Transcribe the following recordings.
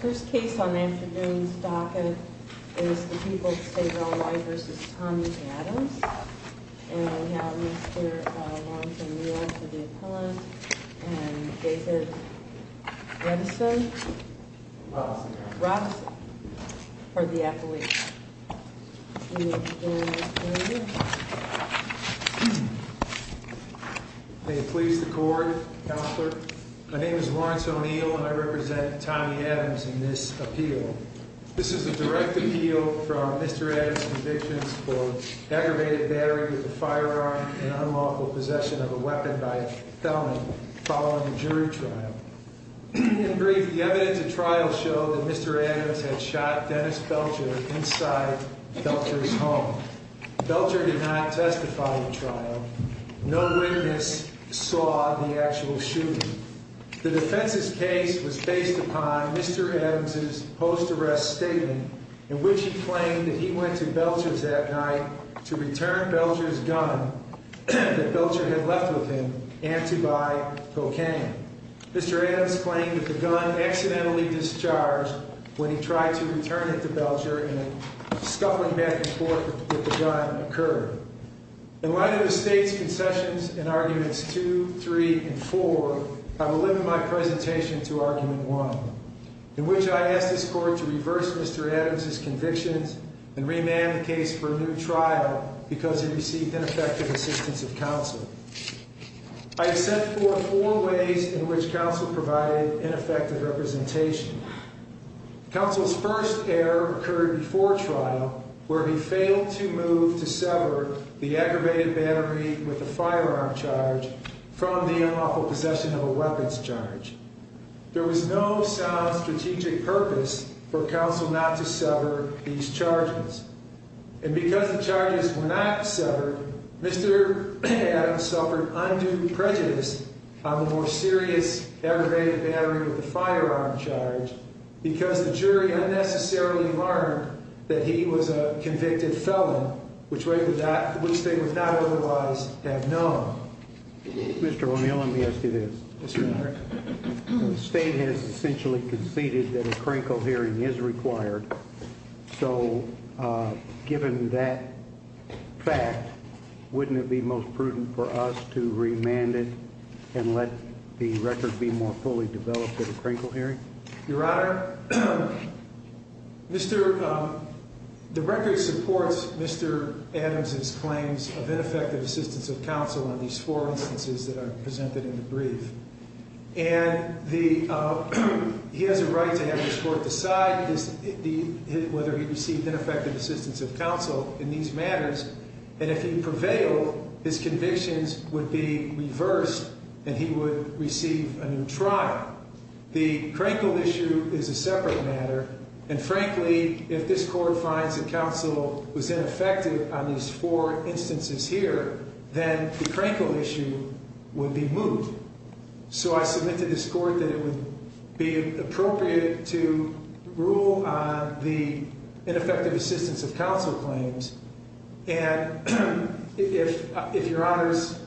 First case on the afternoon's docket is the people of the state of Illinois v. Tommy Adams. And we have Mr. Lawrence of New York for the appellate. And David Robeson for the appellate. You may begin, Mr. Mayor. May it please the Court, Counselor. My name is Lawrence O'Neill and I represent Tommy Adams in this appeal. This is a direct appeal from Mr. Adams' convictions for aggravated battery with a firearm and unlawful possession of a weapon by a felon following a jury trial. In brief, the evidence of trial showed that Mr. Adams had shot Dennis Belcher inside Belcher's home. Belcher did not testify at the trial. No witness saw the actual shooting. The defense's case was based upon Mr. Adams' post-arrest statement in which he claimed that he went to Belcher's that night to return Belcher's gun that Belcher had left with him and to buy cocaine. Mr. Adams claimed that the gun accidentally discharged when he tried to return it to Belcher in a scuffling back and forth that the gun occurred. In light of the State's concessions in Arguments 2, 3, and 4, I will limit my presentation to Argument 1, in which I ask this Court to reverse Mr. Adams' convictions and remand the case for a new trial because it received ineffective assistance of counsel. I set forth four ways in which counsel provided ineffective representation. Counsel's first error occurred before trial where he failed to move to sever the aggravated battery with a firearm charge from the unlawful possession of a weapons charge. There was no sound strategic purpose for counsel not to sever these charges. And because the charges were not severed, Mr. Adams suffered undue prejudice on the more serious aggravated battery with the firearm charge because the jury unnecessarily learned that he was a convicted felon, which they would not otherwise have known. Mr. O'Neill, let me ask you this. Yes, Your Honor. The State has essentially conceded that a crinkle hearing is required, so given that fact, wouldn't it be most prudent for us to remand it and let the record be more fully developed at a crinkle hearing? Your Honor, the record supports Mr. Adams' claims of ineffective assistance of counsel in these four instances that are presented in the brief. And he has a right to have this Court decide whether he received ineffective assistance of counsel in these matters, and if he prevailed, his convictions would be reversed and he would receive a new trial. The crinkle issue is a separate matter, and frankly, if this Court finds that counsel was ineffective on these four instances here, then the crinkle issue would be moved. So I submit to this Court that it would be appropriate to rule on the ineffective assistance of counsel claims, and if Your Honors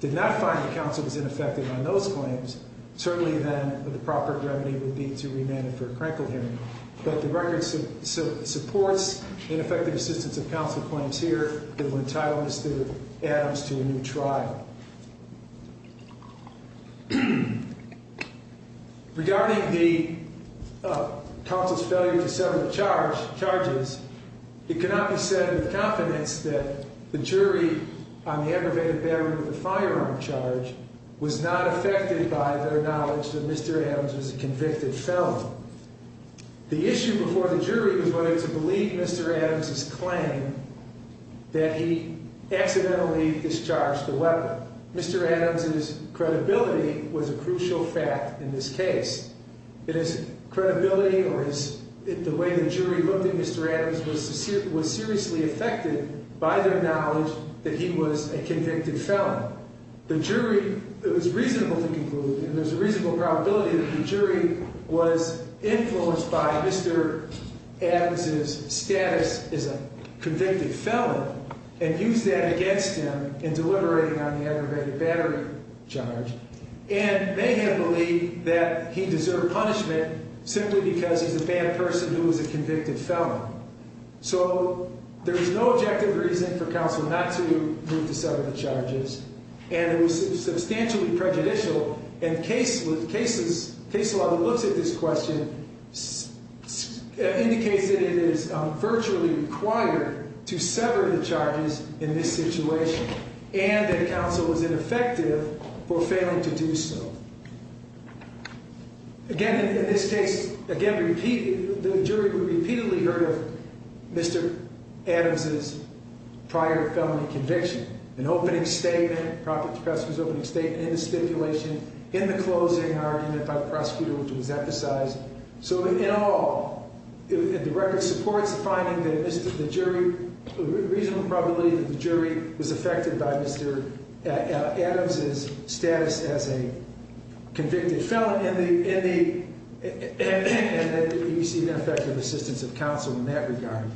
did not find that counsel was ineffective on those claims, certainly then the proper remedy would be to remand it for a crinkle hearing. But the record supports ineffective assistance of counsel claims here and entitles Mr. Adams to a new trial. Regarding the counsel's failure to settle the charges, it cannot be said with confidence that the jury on the aggravated battery with the firearm charge was not affected by their knowledge that Mr. Adams was a convicted felon. The issue before the jury was whether to believe Mr. Adams' claim that he accidentally discharged the weapon. Mr. Adams' credibility was a crucial fact in this case. It is credibility or the way the jury looked at Mr. Adams was seriously affected by their knowledge that he was a convicted felon. The jury, it was reasonable to conclude, and there's a reasonable probability that the jury was influenced by Mr. Adams' status as a convicted felon and used that against him in deliberating on the aggravated battery charge, and they had believed that he deserved punishment simply because he's a bad person who was a convicted felon. So there's no objective reason for counsel not to move to sever the charges, and it was substantially prejudicial, and case law that looks at this question indicates that it is virtually required to sever the charges in this situation and that counsel was ineffective for failing to do so. Again, in this case, again, the jury repeatedly heard of Mr. Adams' prior felony conviction, an opening statement. Professor's opening statement in the stipulation in the closing argument by the prosecutor, which was emphasized. So in all, the record supports the finding that the jury, a reasonable probability that the jury was affected by Mr. Adams' status as a convicted felon and that he received ineffective assistance of counsel in that regard.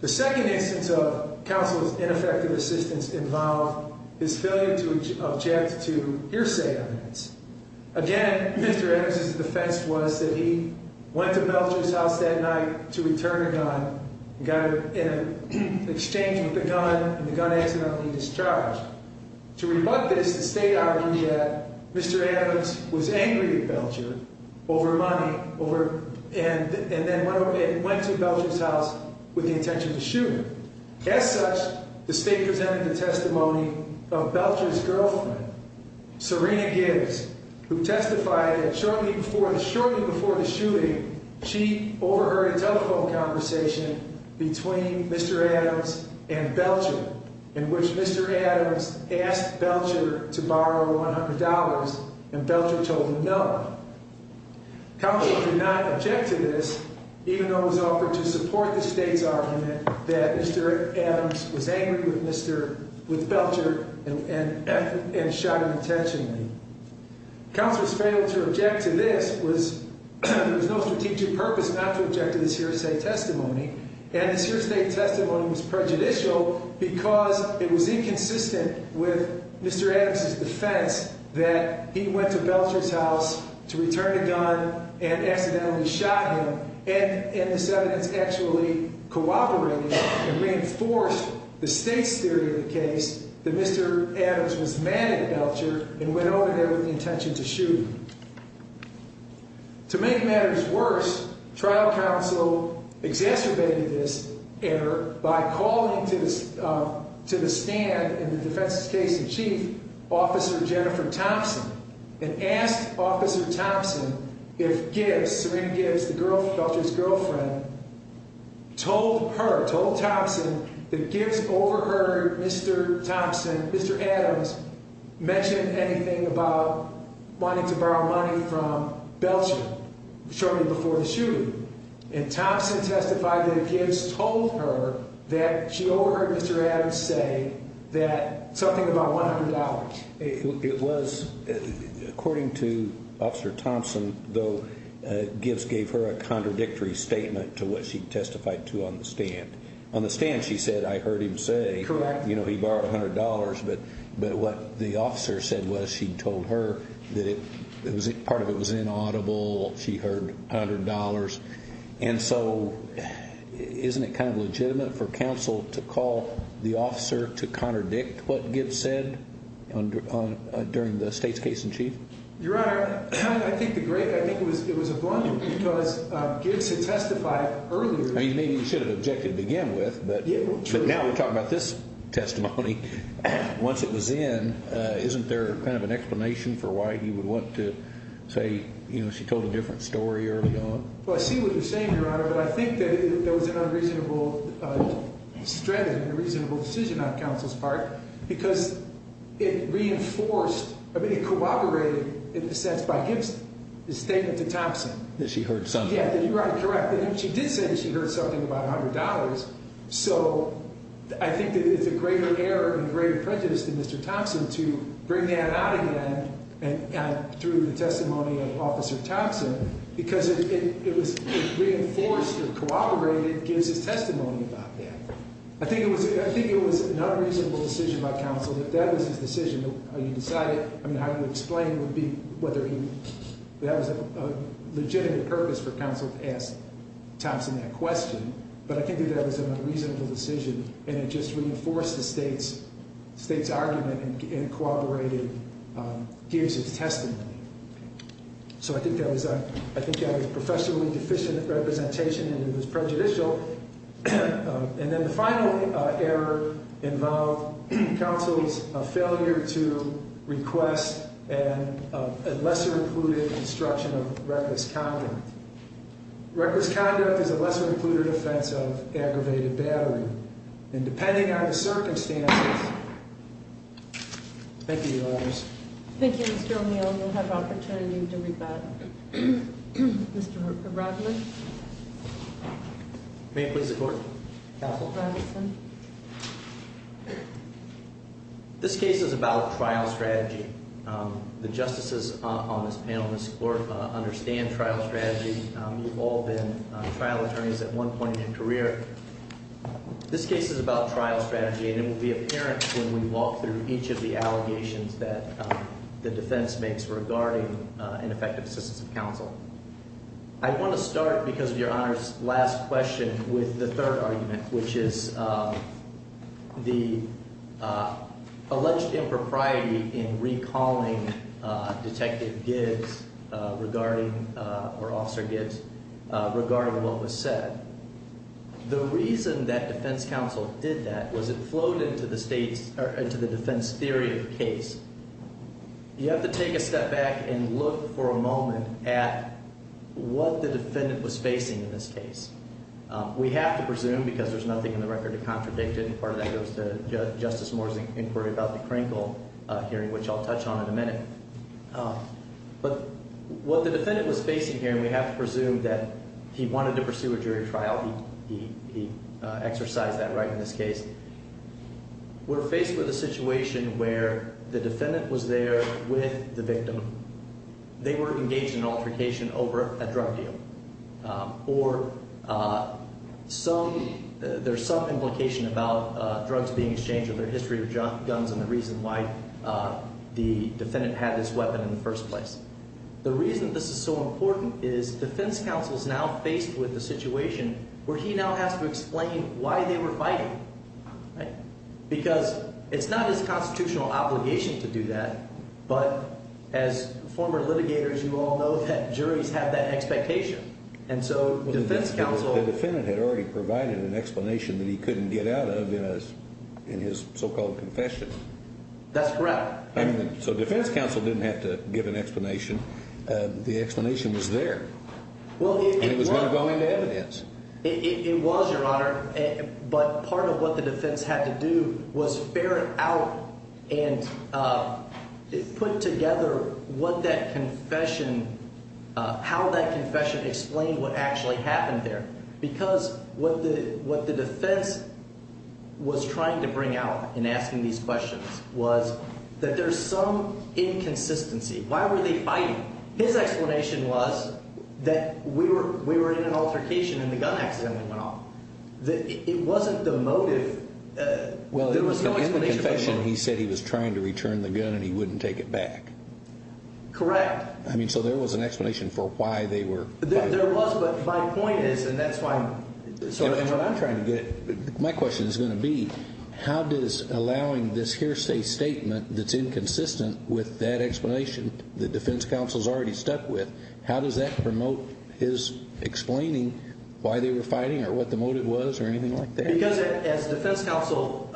The second instance of counsel's ineffective assistance involved his failure to object to hearsay evidence. Again, Mr. Adams' defense was that he went to Belcher's house that night to return a gun and got in an exchange with the gun and the gun accidentally discharged. To rebut this, the state argued that Mr. Adams was angry at Belcher over money and then went to Belcher's house with the intention to shoot him. As such, the state presented the testimony of Belcher's girlfriend, Serena Gibbs, who testified that shortly before the shooting, she overheard a telephone conversation between Mr. Adams and Belcher in which Mr. Adams asked Belcher to borrow $100 and Belcher told him no. Counsel did not object to this, even though it was offered to support the state's argument that Mr. Adams was angry with Belcher and shot him intentionally. Counsel's failure to object to this was, there was no strategic purpose not to object to this hearsay testimony and this hearsay testimony was prejudicial because it was inconsistent with Mr. Adams' defense that he went to Belcher's house to return a gun and accidentally shot him and this evidence actually cooperated and reinforced the state's theory of the case that Mr. Adams was mad at Belcher and went over to Belcher's house and shot him. In other words, Belcher was mad at him for going over to Belcher's house to return a gun, and Belcher was mad at him for not going there with the intention to shoot him. In other words, Belcher was mad at him for wanting to borrow money from Belcher shortly before the shooting and Thompson testified that Gibbs told her that she overheard Mr. Adams say that something about $100. It was, according to Officer Thompson, Gibbs gave her a contradictory statement to what she testified to on the stand. On the stand she said, I heard him say he borrowed $100, but what the officer said was she told her that part of it was inaudible, she heard $100. And so isn't it kind of legitimate for counsel to call the officer to contradict what Gibbs said during the state's case in chief? Your Honor, I think it was a blunder because Gibbs had testified earlier. Maybe you should have objected to begin with, but now we're talking about this testimony. Once it was in, isn't there kind of an explanation for why he would want to say she told a different story early on? Well, I see what you're saying, Your Honor, but I think that there was an unreasonable strategy and a reasonable decision on counsel's part because it reinforced, I mean it corroborated in a sense by Gibbs' statement to Thompson. That she heard something. Yeah, you're right, correct. She did say she heard something about $100, so I think that it's a greater error and a greater prejudice than Mr. Thompson to bring that out again through the testimony of Officer Thompson because it reinforced or corroborated Gibbs' testimony about that. I think it was an unreasonable decision by counsel that that was his decision. You decided, I mean how you would explain would be whether he, that was a legitimate purpose for counsel to ask Thompson that question, but I think that that was an unreasonable decision and it just reinforced the state's argument and corroborated Gibbs' testimony. So I think that was a, I think that was professionally deficient representation and it was prejudicial. And then the final error involved counsel's failure to request a lesser included instruction of reckless conduct. Reckless conduct is a lesser included offense of aggravated battery. And depending on the circumstances, thank you, Your Honors. Thank you, Mr. O'Neill. You'll have opportunity to rebut. Mr. Rodman. May I please have the court? Counsel Robinson. This case is about trial strategy. The justices on this panel, Mr. Glorf, understand trial strategy. You've all been trial attorneys at one point in your career. This case is about trial strategy and it will be apparent when we walk through each of the allegations that the defense makes regarding ineffective assistance of counsel. I want to start, because of Your Honors' last question, with the third argument, which is the alleged impropriety in recalling Detective Gibbs regarding, or Officer Gibbs, regarding what was said. The reason that defense counsel did that was it flowed into the defense theory of the case. You have to take a step back and look for a moment at what the defendant was facing in this case. We have to presume, because there's nothing in the record to contradict it, and part of that goes to Justice Moore's inquiry about the Krinkle hearing, which I'll touch on in a minute. But what the defendant was facing here, and we have to presume that he wanted to pursue a jury trial. He exercised that right in this case. We're faced with a situation where the defendant was there with the victim. They were engaged in altercation over a drug deal, or there's some implication about drugs being exchanged or their history with guns and the reason why the defendant had this weapon in the first place. The reason this is so important is defense counsel is now faced with a situation where he now has to explain why they were fighting. Because it's not his constitutional obligation to do that, but as former litigators, you all know that juries have that expectation. The defendant had already provided an explanation that he couldn't get out of in his so-called confession. That's correct. So defense counsel didn't have to give an explanation. The explanation was there, and it was going to go into evidence. It was, Your Honor, but part of what the defense had to do was ferret out and put together what that confession – how that confession explained what actually happened there. Because what the defense was trying to bring out in asking these questions was that there's some inconsistency. Why were they fighting? His explanation was that we were in an altercation and the gun accidentally went off. It wasn't the motive. Well, in the confession, he said he was trying to return the gun and he wouldn't take it back. Correct. There was, but my point is, and that's why I'm sort of – And what I'm trying to get – my question is going to be how does allowing this hearsay statement that's inconsistent with that explanation that defense counsel has already stuck with, how does that promote his explaining why they were fighting or what the motive was or anything like that? Because as defense counsel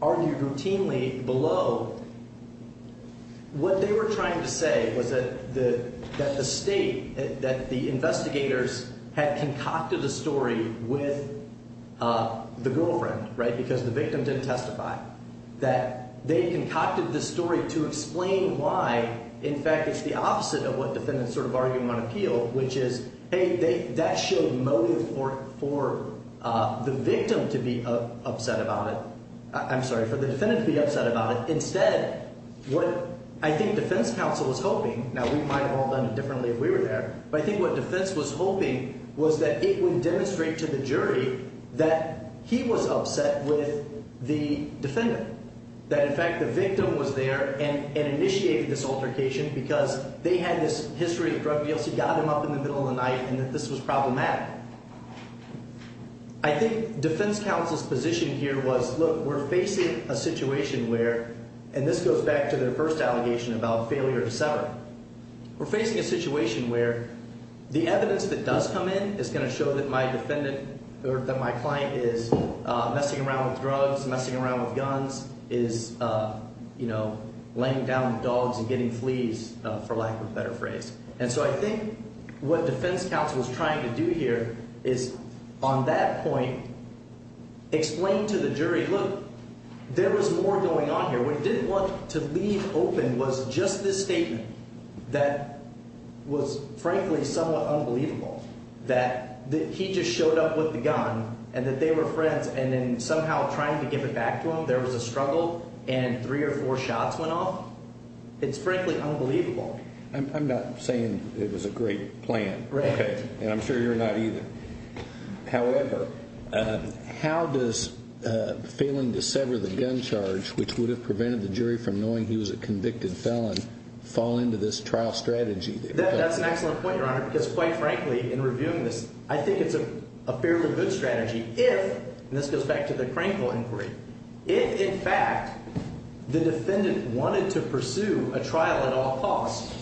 argued routinely below, what they were trying to say was that the state, that the investigators had concocted a story with the girlfriend, right, because the victim didn't testify, that they concocted the story to explain why, in fact, it's the opposite of what defendants sort of argue on appeal, which is, hey, that showed motive for the victim to be upset about it – I'm sorry, for the defendant to be upset about it. Instead, what I think defense counsel was hoping – now, we might have all done it differently if we were there, but I think what defense was hoping was that it would demonstrate to the jury that he was upset with the defendant, that, in fact, the victim was there and initiated this altercation because they had this history of drug deals. He got them up in the middle of the night and that this was problematic. I think defense counsel's position here was, look, we're facing a situation where – and this goes back to their first allegation about failure to sever. We're facing a situation where the evidence that does come in is going to show that my defendant or that my client is messing around with drugs, messing around with guns, is laying down dogs and getting fleas, for lack of a better phrase. And so I think what defense counsel is trying to do here is on that point explain to the jury, look, there was more going on here. What it didn't want to leave open was just this statement that was, frankly, somewhat unbelievable, that he just showed up with the gun and that they were friends and then somehow trying to give it back to him. There was a struggle and three or four shots went off. It's, frankly, unbelievable. I'm not saying it was a great plan. Right. Okay. And I'm sure you're not either. However, how does failing to sever the gun charge, which would have prevented the jury from knowing he was a convicted felon, fall into this trial strategy? That's an excellent point, Your Honor, because, quite frankly, in reviewing this, I think it's a fairly good strategy if – and this goes back to the Crankville inquiry – if, in fact, the defendant wanted to pursue a trial at all costs,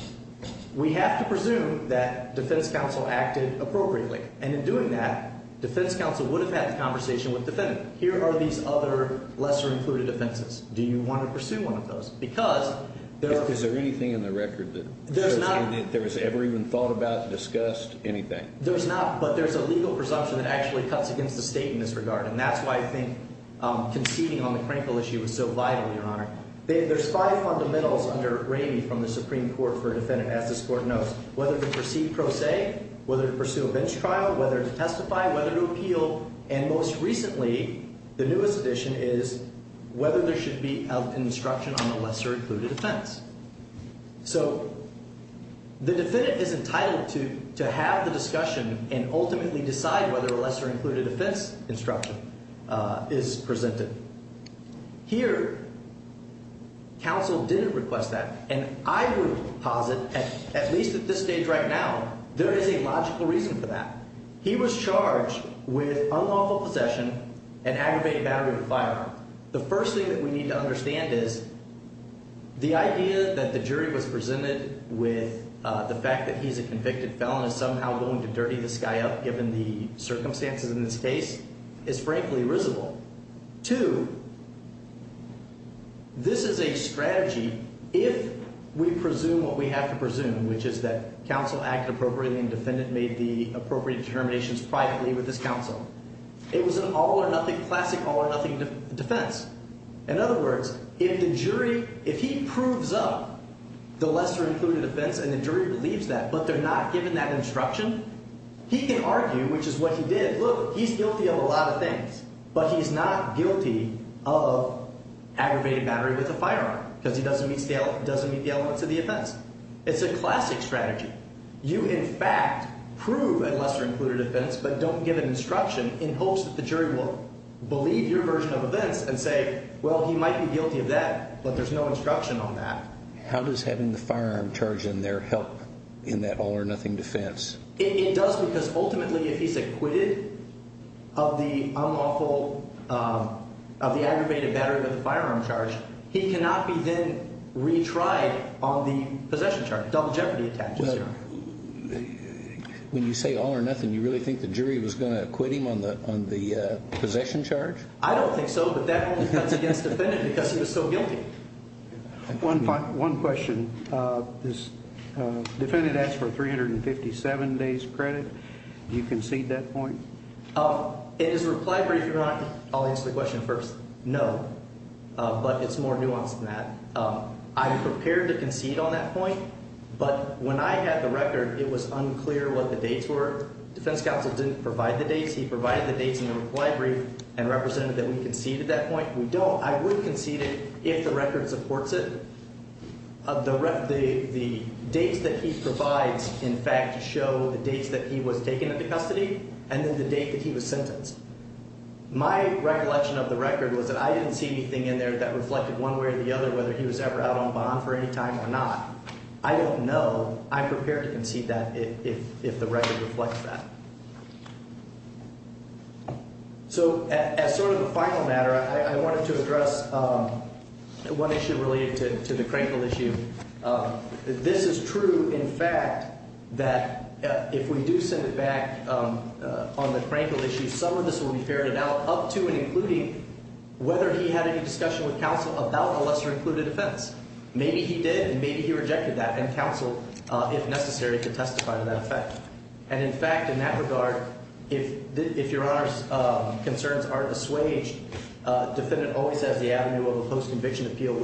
we have to presume that defense counsel acted appropriately. And in doing that, defense counsel would have had the conversation with the defendant. Here are these other lesser-included offenses. Do you want to pursue one of those? Because there are – Is there anything in the record that – There's not –– there was ever even thought about, discussed, anything? There's not, but there's a legal presumption that actually cuts against the state in this regard. And that's why I think conceding on the Crankville issue is so vital, Your Honor. There's five fundamentals under Ramey from the Supreme Court for a defendant, as this Court knows. Whether to proceed pro se, whether to pursue a bench trial, whether to testify, whether to appeal. And most recently, the newest addition is whether there should be an instruction on the lesser-included offense. So the defendant is entitled to have the discussion and ultimately decide whether a lesser-included offense instruction is presented. Here, counsel didn't request that. And I would posit, at least at this stage right now, there is a logical reason for that. He was charged with unlawful possession and aggravated battery with a firearm. The first thing that we need to understand is the idea that the jury was presented with the fact that he's a convicted felon is somehow going to dirty this guy up, given the circumstances in this case, is frankly risible. Two, this is a strategy if we presume what we have to presume, which is that counsel acted appropriately and the defendant made the appropriate determinations privately with his counsel. It was an all-or-nothing, classic all-or-nothing defense. In other words, if the jury, if he proves up the lesser-included offense and the jury believes that, but they're not given that instruction, he can argue, which is what he did, look, he's guilty of a lot of things. But he's not guilty of aggravated battery with a firearm because he doesn't meet the elements of the offense. It's a classic strategy. You, in fact, prove a lesser-included offense but don't give an instruction in hopes that the jury will believe your version of events and say, well, he might be guilty of that, but there's no instruction on that. How does having the firearm charge in there help in that all-or-nothing defense? It does because ultimately if he's acquitted of the unlawful, of the aggravated battery with the firearm charge, he cannot be then retried on the possession charge, double jeopardy attachment charge. When you say all-or-nothing, you really think the jury was going to acquit him on the possession charge? I don't think so, but that only cuts against the defendant because he was so guilty. One question. This defendant asked for 357 days credit. Do you concede that point? It is a reply brief. I'll answer the question first. No, but it's more nuanced than that. I'm prepared to concede on that point, but when I had the record, it was unclear what the dates were. Defense counsel didn't provide the dates. He provided the dates in the reply brief and represented that we conceded that point. We don't. I would concede it if the record supports it. The dates that he provides, in fact, show the dates that he was taken into custody and then the date that he was sentenced. My recollection of the record was that I didn't see anything in there that reflected one way or the other whether he was ever out on bond for any time or not. I don't know. I'm prepared to concede that if the record reflects that. So as sort of a final matter, I wanted to address one issue related to the Crankle issue. This is true, in fact, that if we do send it back on the Crankle issue, some of this will be ferried out up to and including whether he had any discussion with counsel about a lesser-included offense. Maybe he did and maybe he rejected that, and counsel, if necessary, could testify to that effect. And, in fact, in that regard, if Your Honor's concerns are dissuaged, a defendant always has the avenue of a post-conviction appeal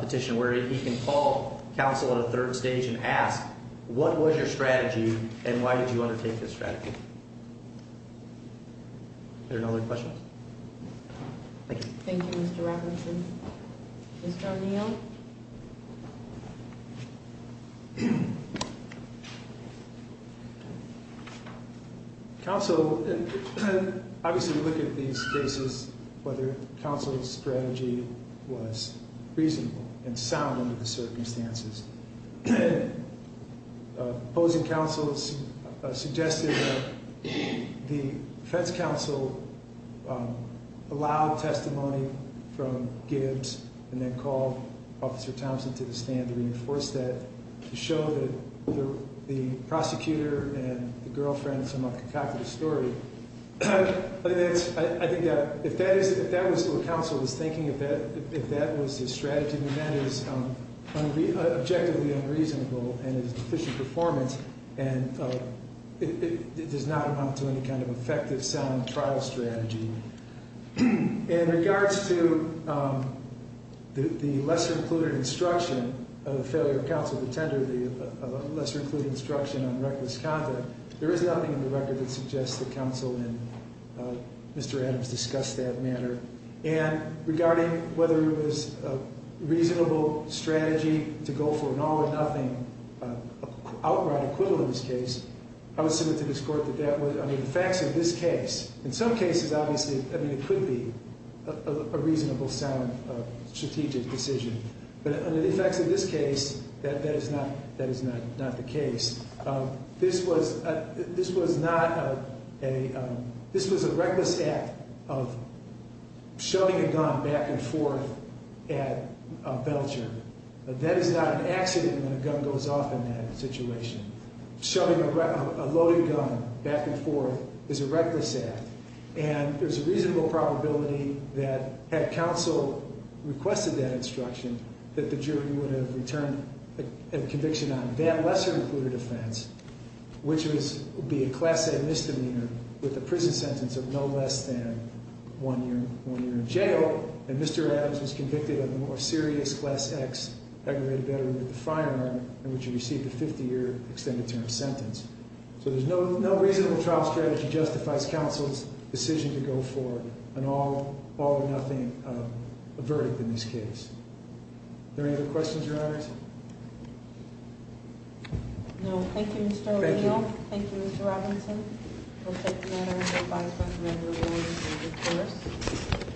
petition where he can call counsel at a third stage and ask, What was your strategy and why did you undertake this strategy? Are there no other questions? Thank you. Thank you, Mr. Rafferty. Mr. O'Neill? Counsel, obviously we look at these cases, whether counsel's strategy was reasonable and sound under the circumstances. Opposing counsel suggested that the defense counsel allow testimony from Gibbs and then call Officer Thompson to the stand to reinforce that, to show that the prosecutor and the girlfriend are somewhat concocted a story. I think that if that was what counsel was thinking, if that was his strategy, then that is objectively unreasonable and is deficient performance, and it does not amount to any kind of effective, sound trial strategy. In regards to the lesser-included instruction of the failure of counsel to tender the lesser-included instruction on reckless conduct, there is nothing in the record that suggests that counsel and Mr. Adams discussed that matter. And regarding whether it was a reasonable strategy to go for an all-or-nothing outright equivalent in this case, I would submit to this Court that that was, I mean, the facts of this case, in some cases, obviously, I mean, it could be a reasonable, sound, strategic decision. But under the effects of this case, that is not the case. This was not a – this was a reckless act of shoving a gun back and forth at a penitentiary. That is not an accident when a gun goes off in that situation. Shoving a loaded gun back and forth is a reckless act, and there's a reasonable probability that had counsel requested that instruction, that the jury would have returned a conviction on it. And that lesser-included offense, which would be a Class A misdemeanor with a prison sentence of no less than one year in jail, and Mr. Adams was convicted of a more serious Class X aggravated battery with a firearm in which he received a 50-year extended term sentence. So there's no reasonable trial strategy justifies counsel's decision to go for an all-or-nothing verdict in this case. Are there any other questions, Your Honors? No. Thank you, Mr. O'Neill. Thank you. Thank you, Mr. Robinson. We'll take the matter as advised by Commendable Williams and recourse.